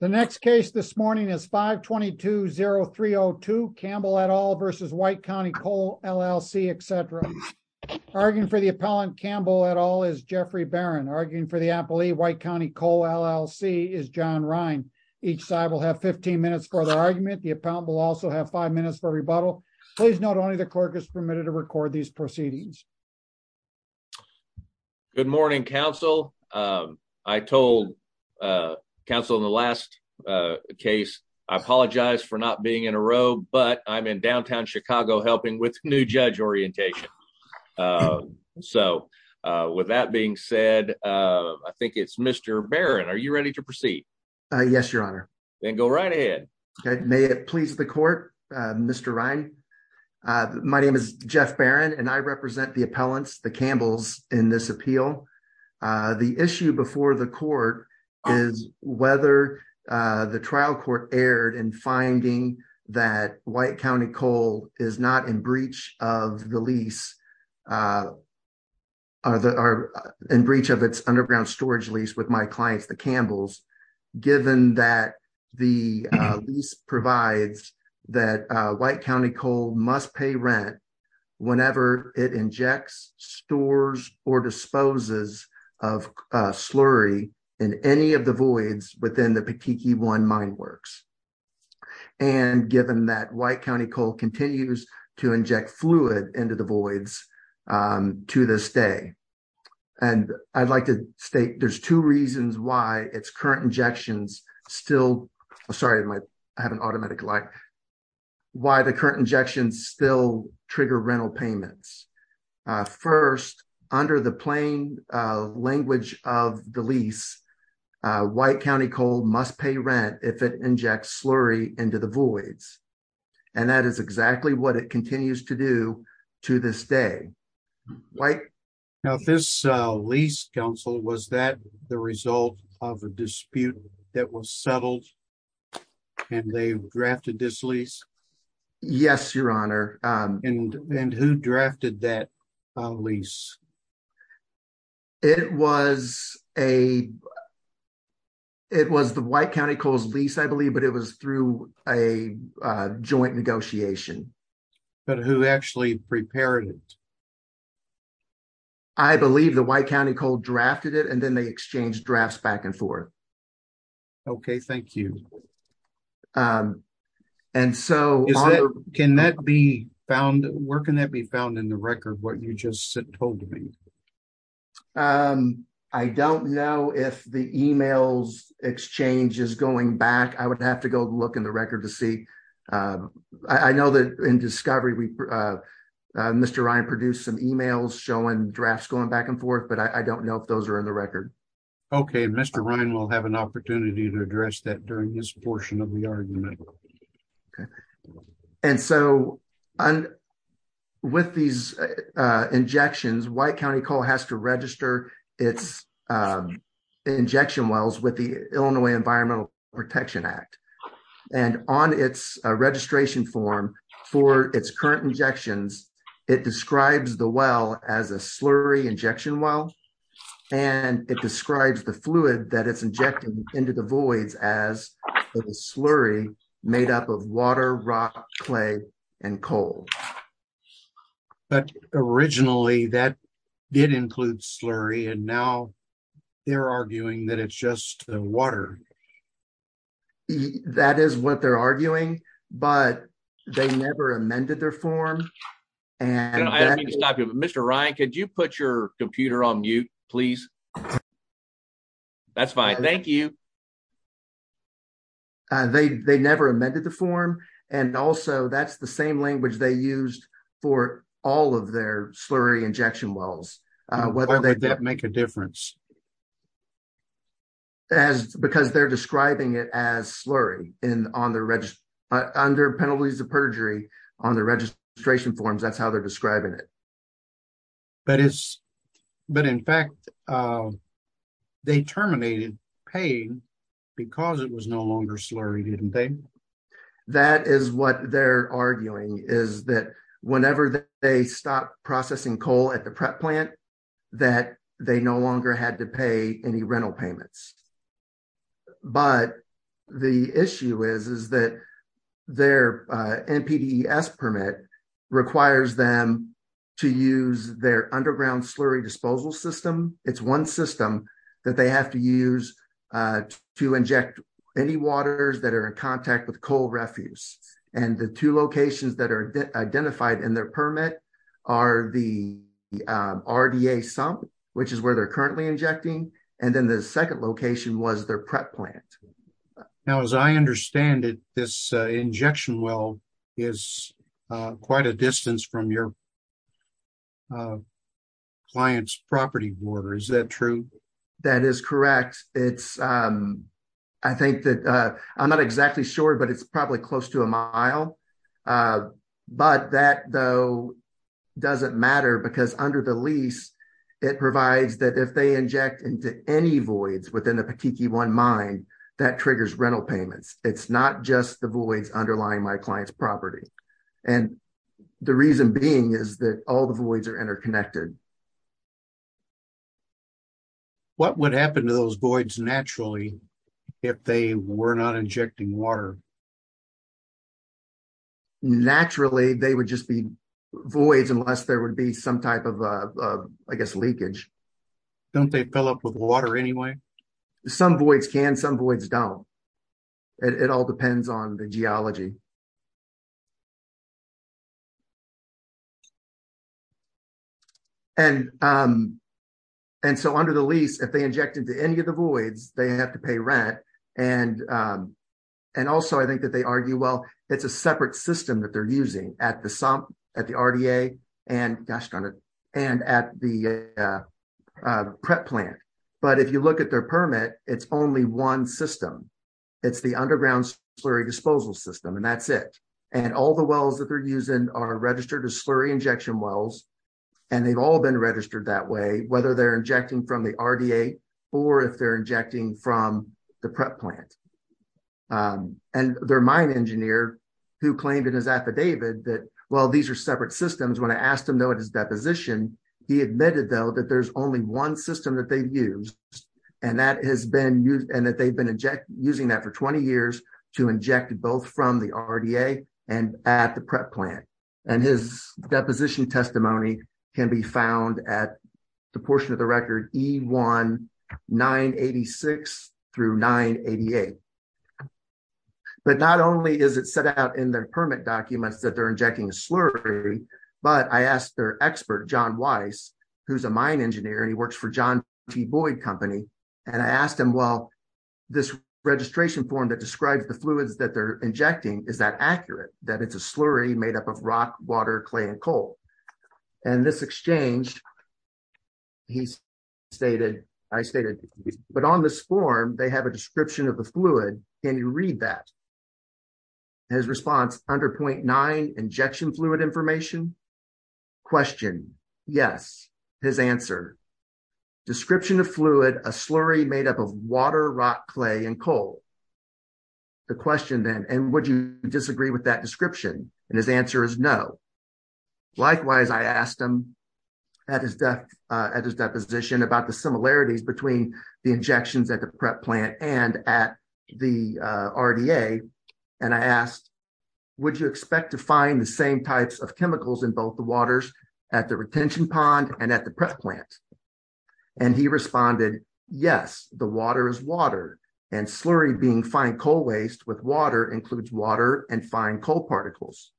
The next case this morning is 522-0302 Campbell et al versus White County Coal, LLC, etc. Arguing for the appellant Campbell et al is Jeffrey Barron. Arguing for the appellee White County Coal, LLC is John Rhine. Each side will have 15 minutes for their argument. The appellant will also have five minutes for rebuttal. Please note only the clerk is permitted to record these The trial court erred in finding that White County Coal is not in breach of its underground storage lease with my clients the Campbells, given that the lease provides that White County Coal must pay rent whenever it injects, stores, or disposes of slurry in any of the voids within the Petiki One mine works. And given that White County Coal continues to inject fluid into the voids to this day. And I'd like to state there's two reasons why its current injections still, sorry I have an automatic light, why the current injections still trigger rental payments. First, under the plain language of the lease, White County Coal must pay rent if it injects slurry into the voids. And that is exactly what it continues to do to this day. Now this lease counsel, was that the result of a dispute that was settled and they drafted this Yes, your honor. And who drafted that lease? It was a, it was the White County Coal's lease I believe, but it was through a joint negotiation. But who actually prepared it? I believe the White County Coal drafted it and then they exchanged drafts back and forth. Okay, thank you. And so, can that be found, where can that be found in the record, what you just told me? I don't know if the emails exchange is going back. I would have to go look in the record to see. I know that in discovery, Mr. Ryan produced some emails showing drafts going back and forth, but I don't know if those are in the record. Okay, Mr. Ryan will have an opportunity to address that during this portion of the argument. And so, with these injections, White County Coal has to register its injection wells with the Illinois Environmental Protection Act. And on its registration form for its current injections, it describes the well as a slurry injection well. And it describes the fluid that it's injecting into the voids as a slurry made up of water, rock, clay, and coal. But originally that did include slurry and now they're arguing that it's just water. And that is what they're arguing, but they never amended their form. And I don't mean to stop you, but Mr. Ryan, could you put your computer on mute, please? That's fine, thank you. They never amended the form, and also that's the same language they used for all of their slurry injection wells. Why would that make a difference? Because they're describing it as slurry on their penalties of perjury on the registration forms, that's how they're describing it. But in fact, they terminated paying because it was no longer slurry, didn't they? That is what they're arguing, is that whenever they stopped processing coal at the prep plant, that they no longer had to pay any rental payments. But the issue is that their NPDES permit requires them to use their underground slurry disposal system. It's one system that they have to use to inject any waters that are in contact with coal and the two locations that are identified in their permit are the RDA sump, which is where they're currently injecting, and then the second location was their prep plant. Now, as I understand it, this injection well is quite a distance from your client's property border, is that true? That is correct. I'm not exactly sure, but it's probably close to a mile. But that, though, doesn't matter because under the lease, it provides that if they inject into any voids within the Patiki One mine, that triggers rental payments. It's not just the voids underlying my client's property. The reason being is that all the voids are interconnected. What would happen to those voids naturally if they were not injecting water? Naturally, they would just be voids unless there would be some type of, I guess, leakage. Don't they fill up with water anyway? Some voids can, some voids don't. It all depends on the geology. And so under the lease, if they inject into any of the voids, they have to pay rent. And also, I think that they argue, well, it's a separate system that they're using at the sump, at the RDA, and at the prep plant. But if you look at their permit, it's only one system. It's the underground slurry disposal system, and that's it. And all the wells that they're using are registered as slurry injection wells. And they've all been registered that way, whether they're injecting from the RDA or if they're injecting from the prep plant. And their mine engineer, who claimed in his affidavit that, well, these are separate systems, when I asked him, though, at his deposition, he admitted, though, that there's only one system that they've used, and that they've been using that for 20 years to inject both from the RDA and at the prep plant. And his deposition testimony can be found at the portion of the record E1-986 through 988. But not only is it set out in their permit documents that they're injecting slurry, but I asked their expert, John Weiss, who's a mine engineer, and he works for John T. Boyd company, and I asked him, well, this registration form that describes the fluids that they're injecting, is that accurate, that it's a slurry made up of rock, water, clay, and coal? And this exchange, he stated, I stated, but on this form, they have a description of the fluid. Can you read that? His response, under point nine, injection fluid information? Question, yes. His answer, description of fluid, a slurry made up of water, rock, clay, and coal. The question then, and would you disagree with that description? And his answer is no. Likewise, I asked him at his deposition about the similarities between the injections at the prep plant and at the RDA, and I asked, would you expect to find the same types of chemicals in both the waters at the retention pond and at the prep plant? And he responded, yes, the water is water, and slurry being fine coal waste with water includes water and fine coal particles.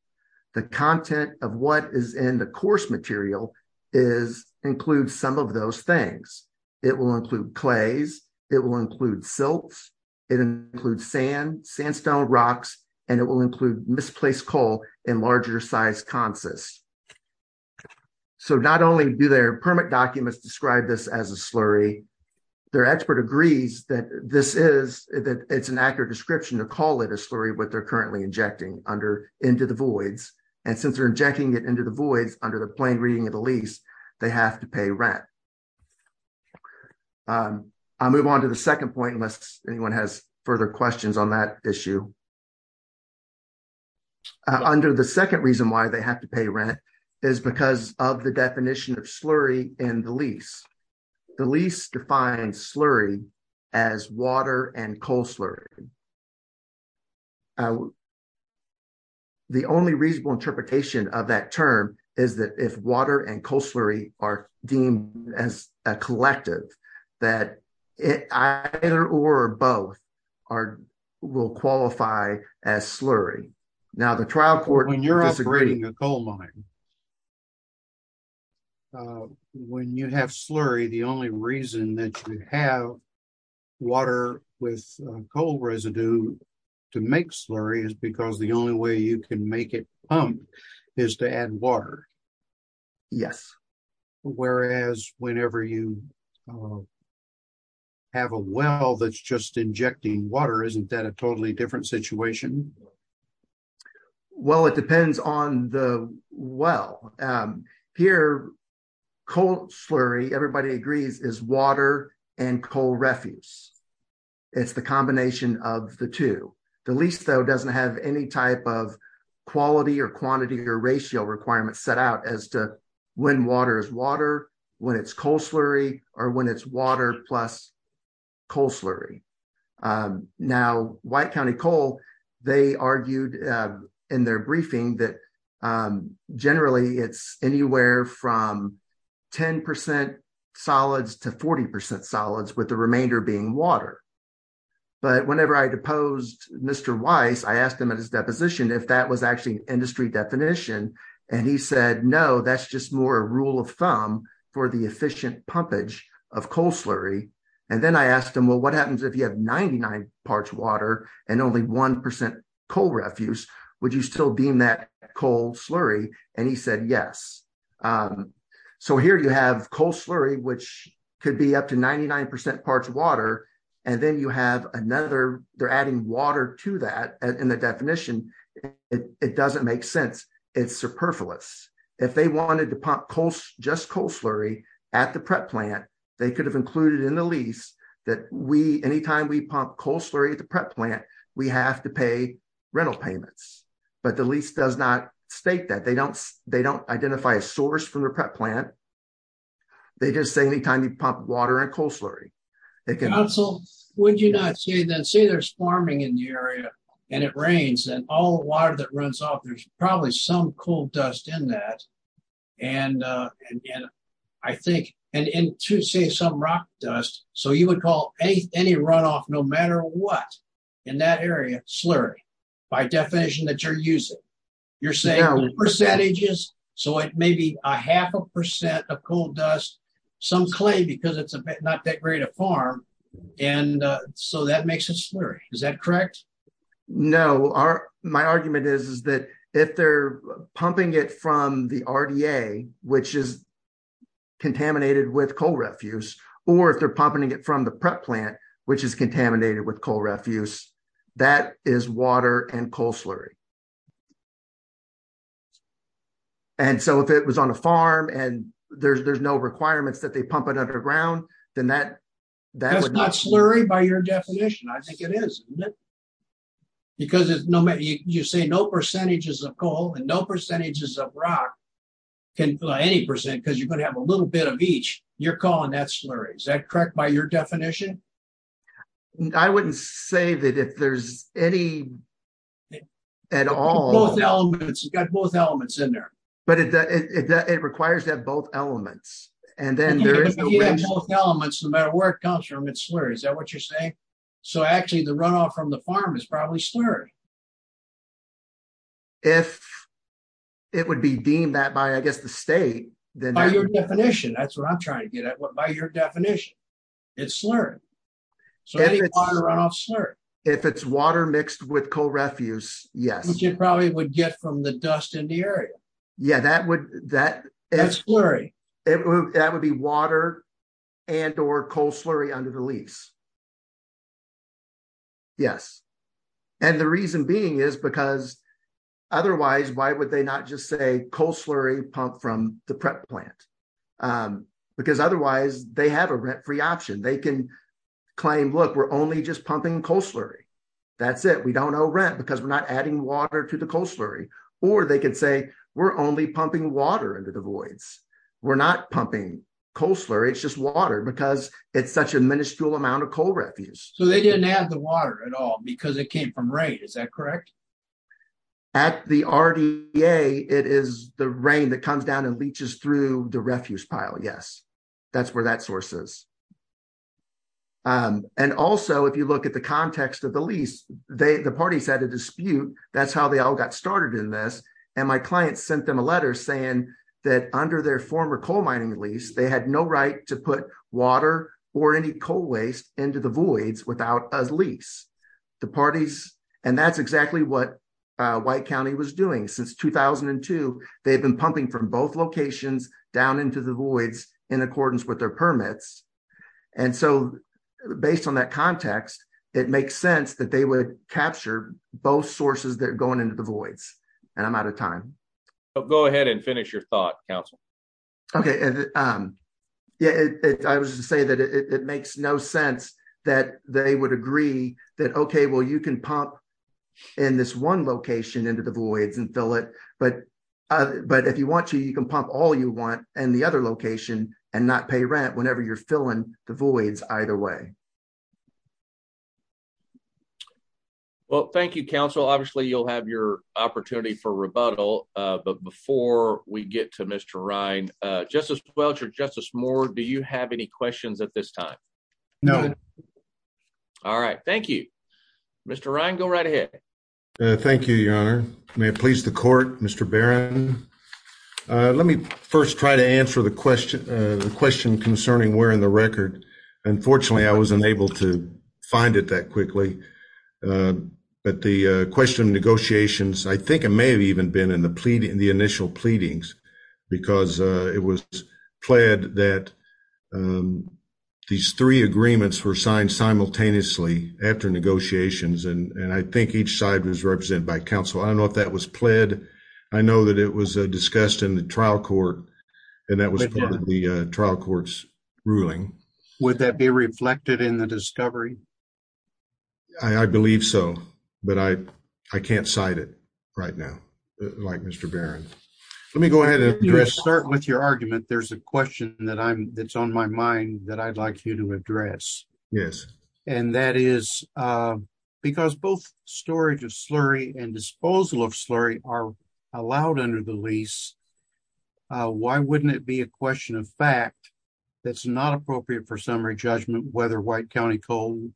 The content of what is in the course material is, includes some of those things. It will include clays, it will include silts, it includes sand, sandstone rocks, and it will include misplaced coal in larger size consists. So not only do their permit documents describe this as a slurry, their expert agrees that this is, that it's an accurate description to call it a slurry, what they're currently injecting under, into the voids, and since they're injecting it into the voids under the plain reading of the lease, they have to pay rent. I'll move on to the second point unless anyone has further questions on that issue. Under the second reason why they have to pay rent is because of the definition of slurry in the lease. The lease defines slurry as water and coal slurry. The only reasonable interpretation of that term is that if water and coal slurry are deemed as a collective, that it either or both are, will qualify as slurry. Now the trial court when you have slurry, the only reason that you have water with coal residue to make slurry is because the only way you can make it pump is to add water. Yes. Whereas whenever you have a well that's just injecting water, isn't that a totally different situation? Well it depends on the well. Here, coal slurry, everybody agrees, is water and coal refuse. It's the combination of the two. The lease though doesn't have any type of quality or quantity or ratio requirements set out as to when water is water, when it's coal slurry, or when it's water plus coal slurry. Now White County Coal, they argued in their briefing that generally it's anywhere from 10 percent solids to 40 percent solids with the remainder being water. But whenever I deposed Mr. Weiss, I asked him at his deposition if that was actually an industry definition and he said no, that's just more a rule of thumb for the efficient pumpage of coal slurry. And then I asked him, well what happens if you have 99 parts water and only one percent coal refuse, would you still deem that coal slurry? And he said yes. So here you have coal slurry which could be up to 99 percent parts water and then you have another, they're adding water to that and the definition, it doesn't make sense. It's superfluous. If they wanted to pump just coal slurry at the prep plant, they could have included in the lease that we, anytime we pump coal slurry at the prep plant, we have to pay rental payments. But the lease does not state that. They don't identify a source from the prep plant. They just say anytime you pump water and coal slurry. Council, would you not say then, say there's farming in the area and it rains and all the water that runs off, there's probably some coal dust in that. And to say some rock dust, so you would call any runoff no matter what in that area slurry by definition that you're using. You're saying percentages, so it may be a half a percent of coal dust, some clay because it's not that great a farm. And so that makes it from the RDA, which is contaminated with coal refuse, or if they're pumping it from the prep plant, which is contaminated with coal refuse, that is water and coal slurry. And so if it was on a farm and there's no requirements that they pump it underground, then that's not slurry by your definition. I think it is. Because you say no percentages of coal and no percentages of rock can fill any percent because you're going to have a little bit of each. You're calling that slurry. Is that correct by your definition? I wouldn't say that if there's any at all. Both elements, you've got both elements in there. But it requires that both elements. And then there is both elements no matter where it is. Is that what you're saying? So actually the runoff from the farm is probably slurry. If it would be deemed that by, I guess, the state. By your definition, that's what I'm trying to get at. By your definition, it's slurry. So any runoff is slurry. If it's water mixed with coal refuse, yes. Which it probably would get from the dust in the area. Yeah, that's slurry. That would be water and or coal slurry under the lease. Yes. And the reason being is because otherwise, why would they not just say coal slurry pump from the prep plant? Because otherwise they have a rent-free option. They can claim, look, we're only just pumping coal slurry. That's it. We don't owe rent because we're not pumping water into the voids. We're not pumping coal slurry. It's just water because it's such a miniscule amount of coal refuse. So they didn't add the water at all because it came from rain. Is that correct? At the RDA, it is the rain that comes down and leaches through the refuse pile. Yes. That's where that source is. And also, if you look at the context of the lease, the parties had a dispute. That's how they all got started in this. And my client sent them a letter saying that under their former coal mining lease, they had no right to put water or any coal waste into the voids without a lease. And that's exactly what White County was doing. Since 2002, they've been pumping from both locations down into the voids in accordance with their permits. And so based on that context, it makes sense that they would capture both ahead and finish your thought council. Okay. Yeah, I was just saying that it makes no sense that they would agree that, okay, well, you can pump in this one location into the voids and fill it. But if you want to, you can pump all you want and the other location and not pay rent whenever you're filling the voids either way. Well, thank you, council. Obviously, you'll have your opportunity for rebuttal. But before we get to Mr. Ryan, Justice Welch or Justice Moore, do you have any questions at this time? No. All right. Thank you. Mr. Ryan, go right ahead. Thank you, Your Honor. May it please the court, Mr. Barron. Let me first try to answer the question concerning where in the record. Unfortunately, I was unable to I think it may have even been in the initial pleadings because it was pled that these three agreements were signed simultaneously after negotiations. And I think each side was represented by counsel. I don't know if that was pled. I know that it was discussed in the trial court and that was part of the trial court's ruling. Would that be reflected in the discovery? I believe so. But I can't cite it right now like Mr. Barron. Let me go ahead and start with your argument. There's a question that I'm that's on my mind that I'd like you to address. Yes. And that is because both storage of slurry and disposal of slurry are allowed under the lease. Why wouldn't it be a question of fact that's not appropriate for summary judgment whether White County Coal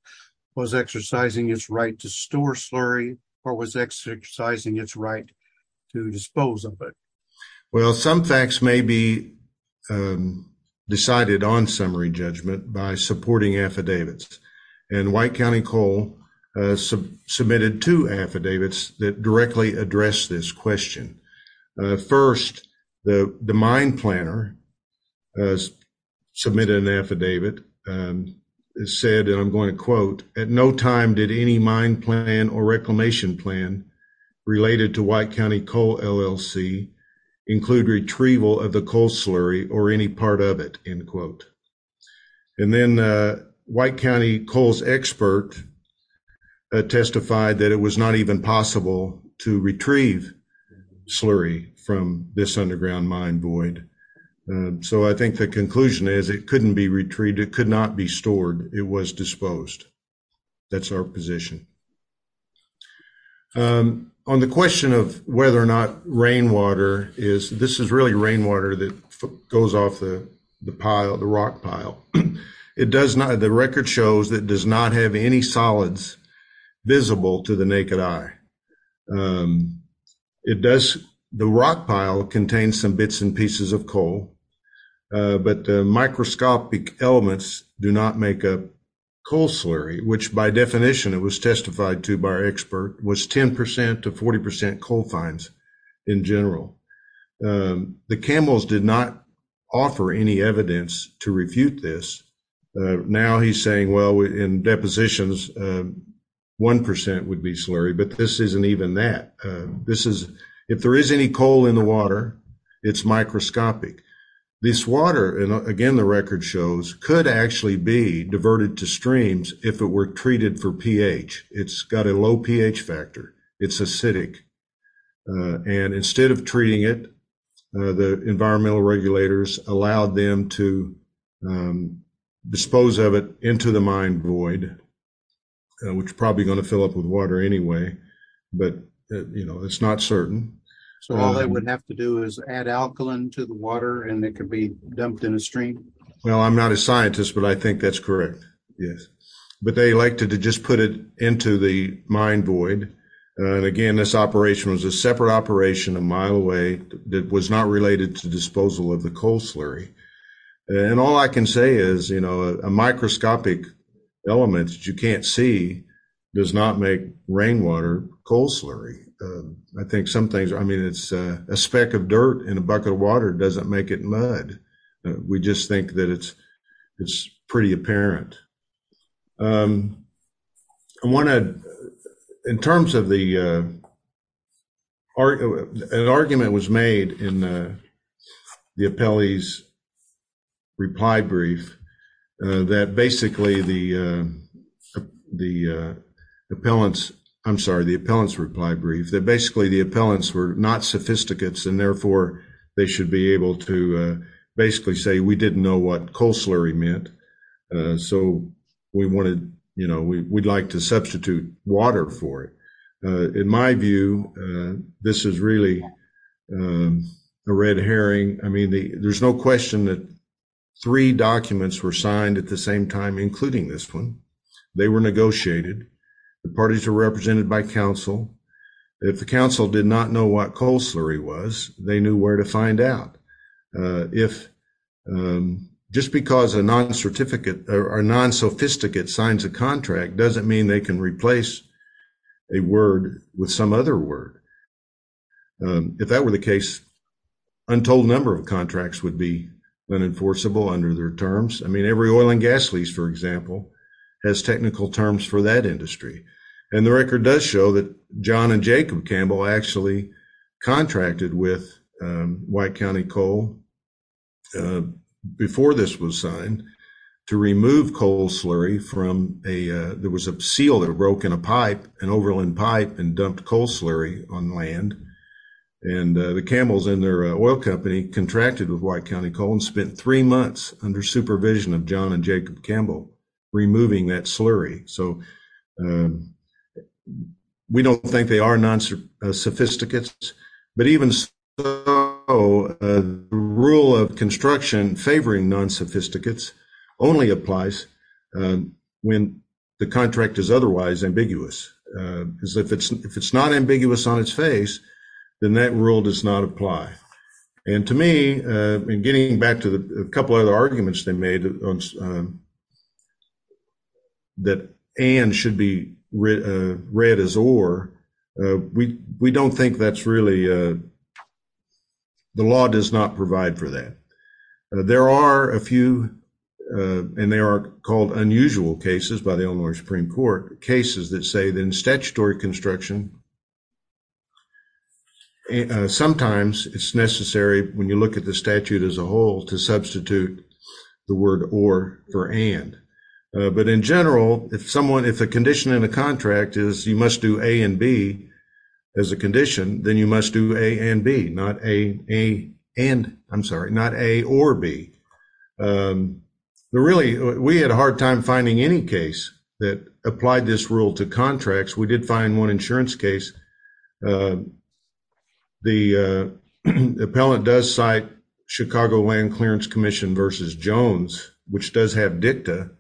was exercising its right to store slurry or was exercising its right to dispose of it? Well, some facts may be decided on summary judgment by supporting affidavits. And White County Coal submitted two affidavits that directly address this question. First, the mine planner has submitted an affidavit. It said, and I'm going to quote, at no time did any mine plan or reclamation plan related to White County Coal LLC include retrieval of the coal slurry or any part of it, end quote. And then White County Coal's expert testified that it was not even possible to retrieve slurry from this underground mine void. So I think the conclusion is it couldn't be retrieved. It could not be stored. It was disposed. That's our position. On the question of whether or not rainwater is, this is really rainwater that goes off the pile, the rock pile. It does not, the record shows that does not have any solids visible to the naked eye. It does, the rock pile contains some bits and pieces of coal, but the microscopic elements do not make up coal slurry, which by definition it was testified to by our expert was 10% to 40% coal fines in general. The Campbell's did not offer any evidence to refute this. Now he's saying, in depositions, 1% would be slurry, but this isn't even that. If there is any coal in the water, it's microscopic. This water, again the record shows, could actually be diverted to streams if it were treated for pH. It's got a low pH factor. It's acidic. And instead of treating it, the environmental regulators allowed them to dispose of it into the mine void, which is probably going to fill up with water anyway, but it's not certain. So all they would have to do is add alkaline to the water and it could be dumped in a stream? Well, I'm not a scientist, but I think that's correct. Yes. But they like to just put it into the mine void. And again, this operation was a separate operation a mile away that was not related to disposal of the coal slurry. And all I can say is, you know, a microscopic element that you can't see does not make rainwater coal slurry. I think some things, I mean, it's a speck of dirt in a bucket of water. It doesn't make it mud. We just think that it's pretty apparent. In terms of the, an argument was made in the appellee's reply brief that basically the appellants, I'm sorry, the appellant's reply brief, that basically the appellants were not sophisticates and therefore they should be able to basically say, we didn't know what coal slurry meant. So we wanted, you know, we'd like to substitute water for it. In my view, this is really a red herring. I mean, there's no question that three documents were signed at the same time, including this one. They were negotiated. The parties are represented by council. If the council did not know what coal slurry was, they knew where to find out. If, just because a non-certificate or a non-sophisticate signs a contract doesn't mean they can replace a word with some other word. If that were the case, untold number of contracts would be unenforceable under their terms. I mean, every oil and gas lease, for example, has technical terms for that industry. And the record does show that John and Jacob Campbell actually contracted with White County Coal before this was signed to remove coal slurry from a, there was a seal that broke in a pipe, an overland pipe, and dumped coal slurry on land. And the Campbells and their oil company contracted with White County Coal and spent three months under supervision of John and Jacob Campbell removing that slurry. So, we don't think they are non-sophisticates. But even so, the rule of construction favoring non-sophisticates only applies when the contract is otherwise ambiguous. Because if it's not ambiguous on its face, then that rule does not apply. And to me, in getting back to a couple other arguments they made that and should be read as or, we don't think that's really, the law does not provide for that. There are a few, and they are called unusual cases by the Illinois Supreme Court, cases that say that in statutory construction, sometimes it's necessary, when you look at the statute as a whole, to substitute the word or for and. But in general, if someone, if a condition in a contract is you must do A and B as a condition, then you must do A and B, not A and, I'm sorry, not A or B. Really, we had a hard time finding any case that applied this rule to contracts. We did find one insurance case. The appellant does cite Chicago Land Clearance Commission v. Jones, which does have dicta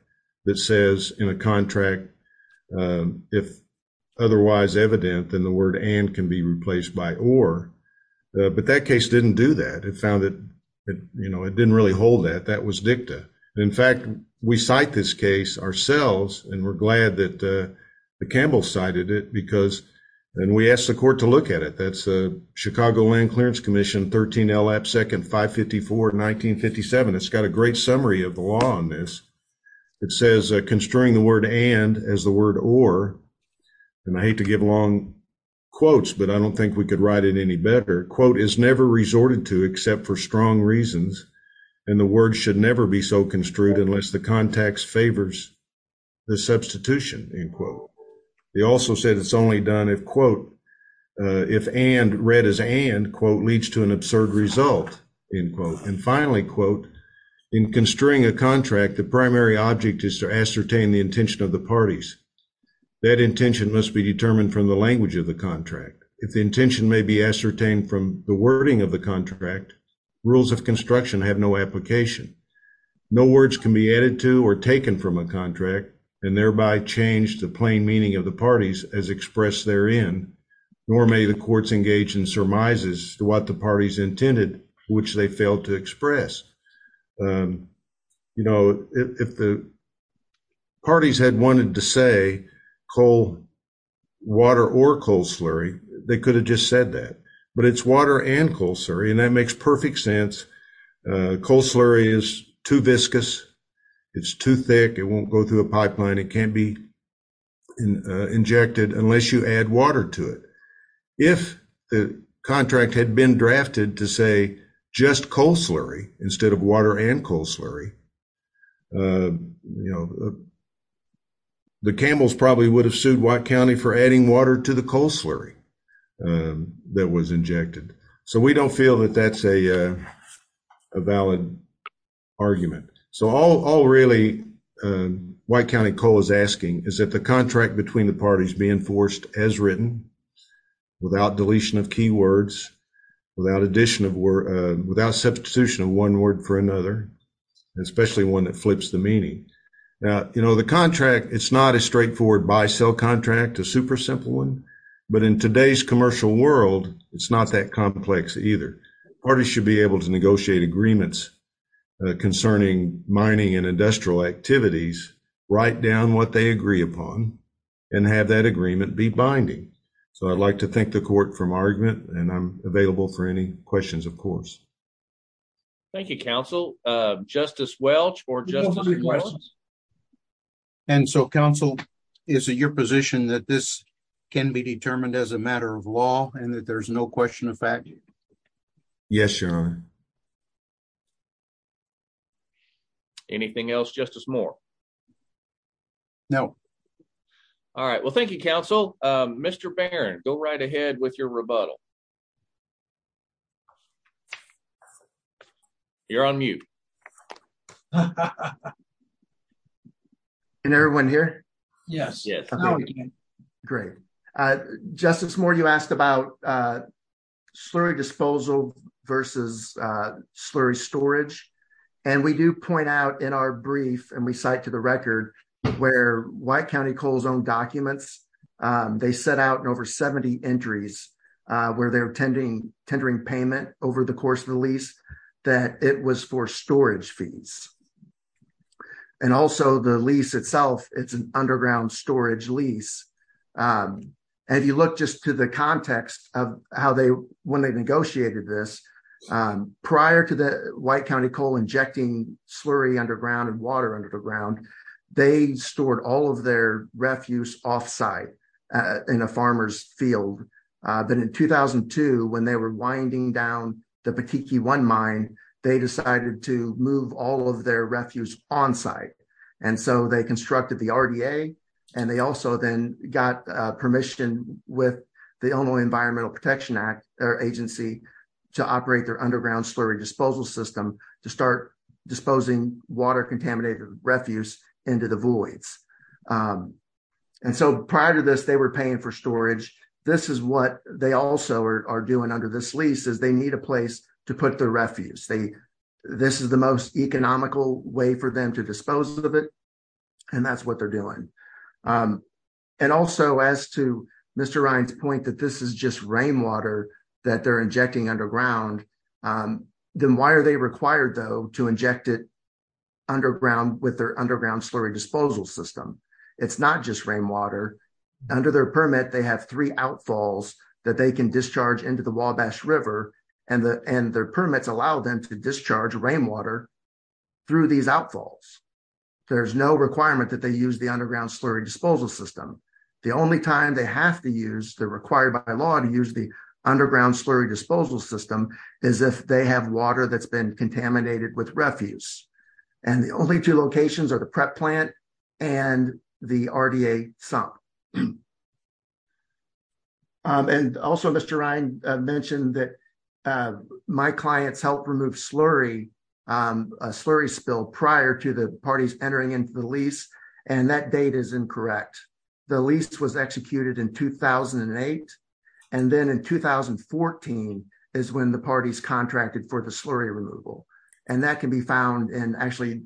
that says in a contract, if otherwise evident, then the word and can be replaced by or. But that case didn't do that. It found that, you know, it didn't really hold that. That was dicta. In fact, we cite this case ourselves, and we're glad that Campbell cited it because, and we asked the court to look at it. That's the Chicago Land Clearance Commission, 13 L. Absecond 554, 1957. It's got a great summary of the law on this. It says construing the word and as the word or, and I hate to give long quotes, but I don't think we could write it any better. Quote, is never resorted to except for strong reasons, and the word should never be so construed unless the context favors the substitution, end quote. They also said it's only done if, quote, if and read as and, quote, leads to an absurd result, end quote. And finally, quote, in construing a contract, the primary object is to ascertain the intention of the parties. That intention must be determined from the language of the contract. If the intention may be ascertained from the wording of the contract, rules of construction have no application. No words can be added to or taken from a contract and thereby change the plain meaning of the parties as expressed therein, nor may the courts engage in surmises to what the parties intended, which they failed to express. You know, if the parties had wanted to say coal water or coal slurry, they could have just said that. But it's water and coal slurry, and that makes perfect sense. Coal slurry is too viscous. It's too thick. It won't go through a pipeline. It can't be injected unless you add water to it. If the contract had been drafted to say just coal slurry instead of water and coal slurry, you know, the Campbells probably would have sued White County for adding water to the coal slurry that was injected. So, we don't feel that that's a valid argument. So, all really White County Coal is asking is that the contract between the parties be enforced as written without deletion of key words, without substitution of one word for another, especially one that flips the meaning. Now, you know, the contract, it's not a straightforward buy-sell contract, a super simple one. But in today's commercial world, it's not that complex either. Parties should be able to negotiate agreements concerning mining and industrial activities, write down what they agree upon, and have that agreement be binding. So, I'd like to thank the court for my argument, and I'm available for any questions, of course. Thank you, counsel. Justice Welch or Justice Welch? And so, counsel, is it your position that this can be determined as a matter of law and that there's no question of fact? Yes, Your Honor. Anything else, Justice Moore? No. All right. Well, thank you, counsel. Mr. Barron, go right ahead with your rebuttal. You're on mute. Can everyone hear? Yes. Great. Justice Moore, you asked about slurry disposal versus slurry storage. And we do point out in our brief, and we cite to the record, where White County Coal's own documents, they set out in over 70 entries where they're tendering payment over the course of the lease that it was for storage fees. And also, the lease itself, it's an underground storage lease. And if you look just to the context of how they, when they negotiated this, prior to the White County Coal injecting slurry underground and water underground, they stored all of their refuse offsite in a farmer's field. But in 2002, when they were winding down the Petit Key One mine, they decided to move all of their refuse onsite. And so they constructed the RDA, and they also then got permission with the Illinois Environmental Protection Agency to operate their underground slurry disposal system to start disposing water contaminated refuse into the voids. And so prior to this, they were paying for storage. This is what they also are doing under this lease, is they need a place to put their refuse. This is the most economical way for them to dispose of it, and that's what they're doing. And also, as to Mr. Ryan's point that this is just rainwater that they're injecting underground, then why are they required, though, to inject it underground with their underground slurry disposal system? It's not just rainwater. Under their permit, they have three outfalls that they can discharge into the Wabash River, and their permits allow them to discharge rainwater through these outfalls. There's no requirement that they use the underground slurry disposal system. The only time they have to use, they're required by law to use the underground slurry disposal system is if they have water that's been contaminated with refuse. And the only two locations are the prep plant and the RDA sump. And also, Mr. Ryan mentioned that my clients helped remove slurry spill prior to the parties entering into the lease, and that date is incorrect. The lease was executed in 2008, and then in 2014 is when the parties contracted for the slurry removal. And that can be found in actually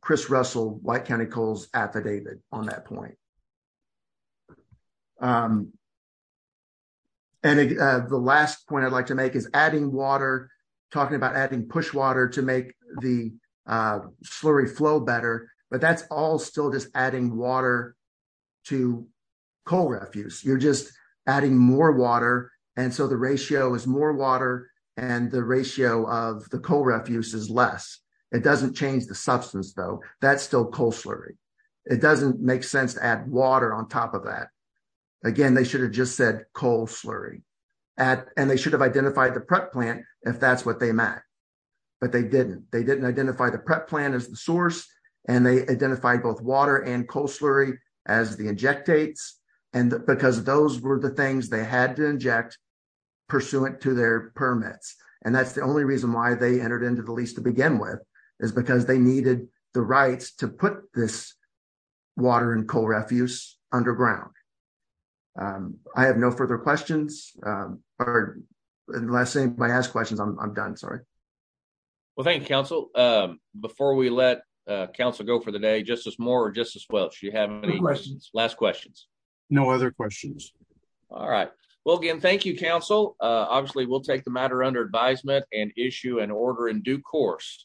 Chris Russell, White County Coals affidavit on that point. And the last point I'd like to make is adding water, talking about adding push water to make the slurry flow better, but that's all still just adding water to coal refuse. You're just adding more water, and so the ratio is more water, and the ratio of the coal refuse is less. It doesn't change the substance, though. That's still coal slurry. It doesn't make sense to add water on top of that. Again, they should have just said coal slurry, and they should have identified the prep plant if that's what they meant, but they didn't. They didn't identify the prep plant as the source, and they identified both water and those were the things they had to inject pursuant to their permits, and that's the only reason why they entered into the lease to begin with, is because they needed the rights to put this water and coal refuse underground. I have no further questions, or unless anybody has questions, I'm done. Sorry. Well, thank you, Council. Before we let Council go for the day, Justice Moore or Justice Welch, do you have any last questions? No other questions. All right. Well, again, thank you, Council. Obviously, we'll take the matter under advisement and issue an order in due course.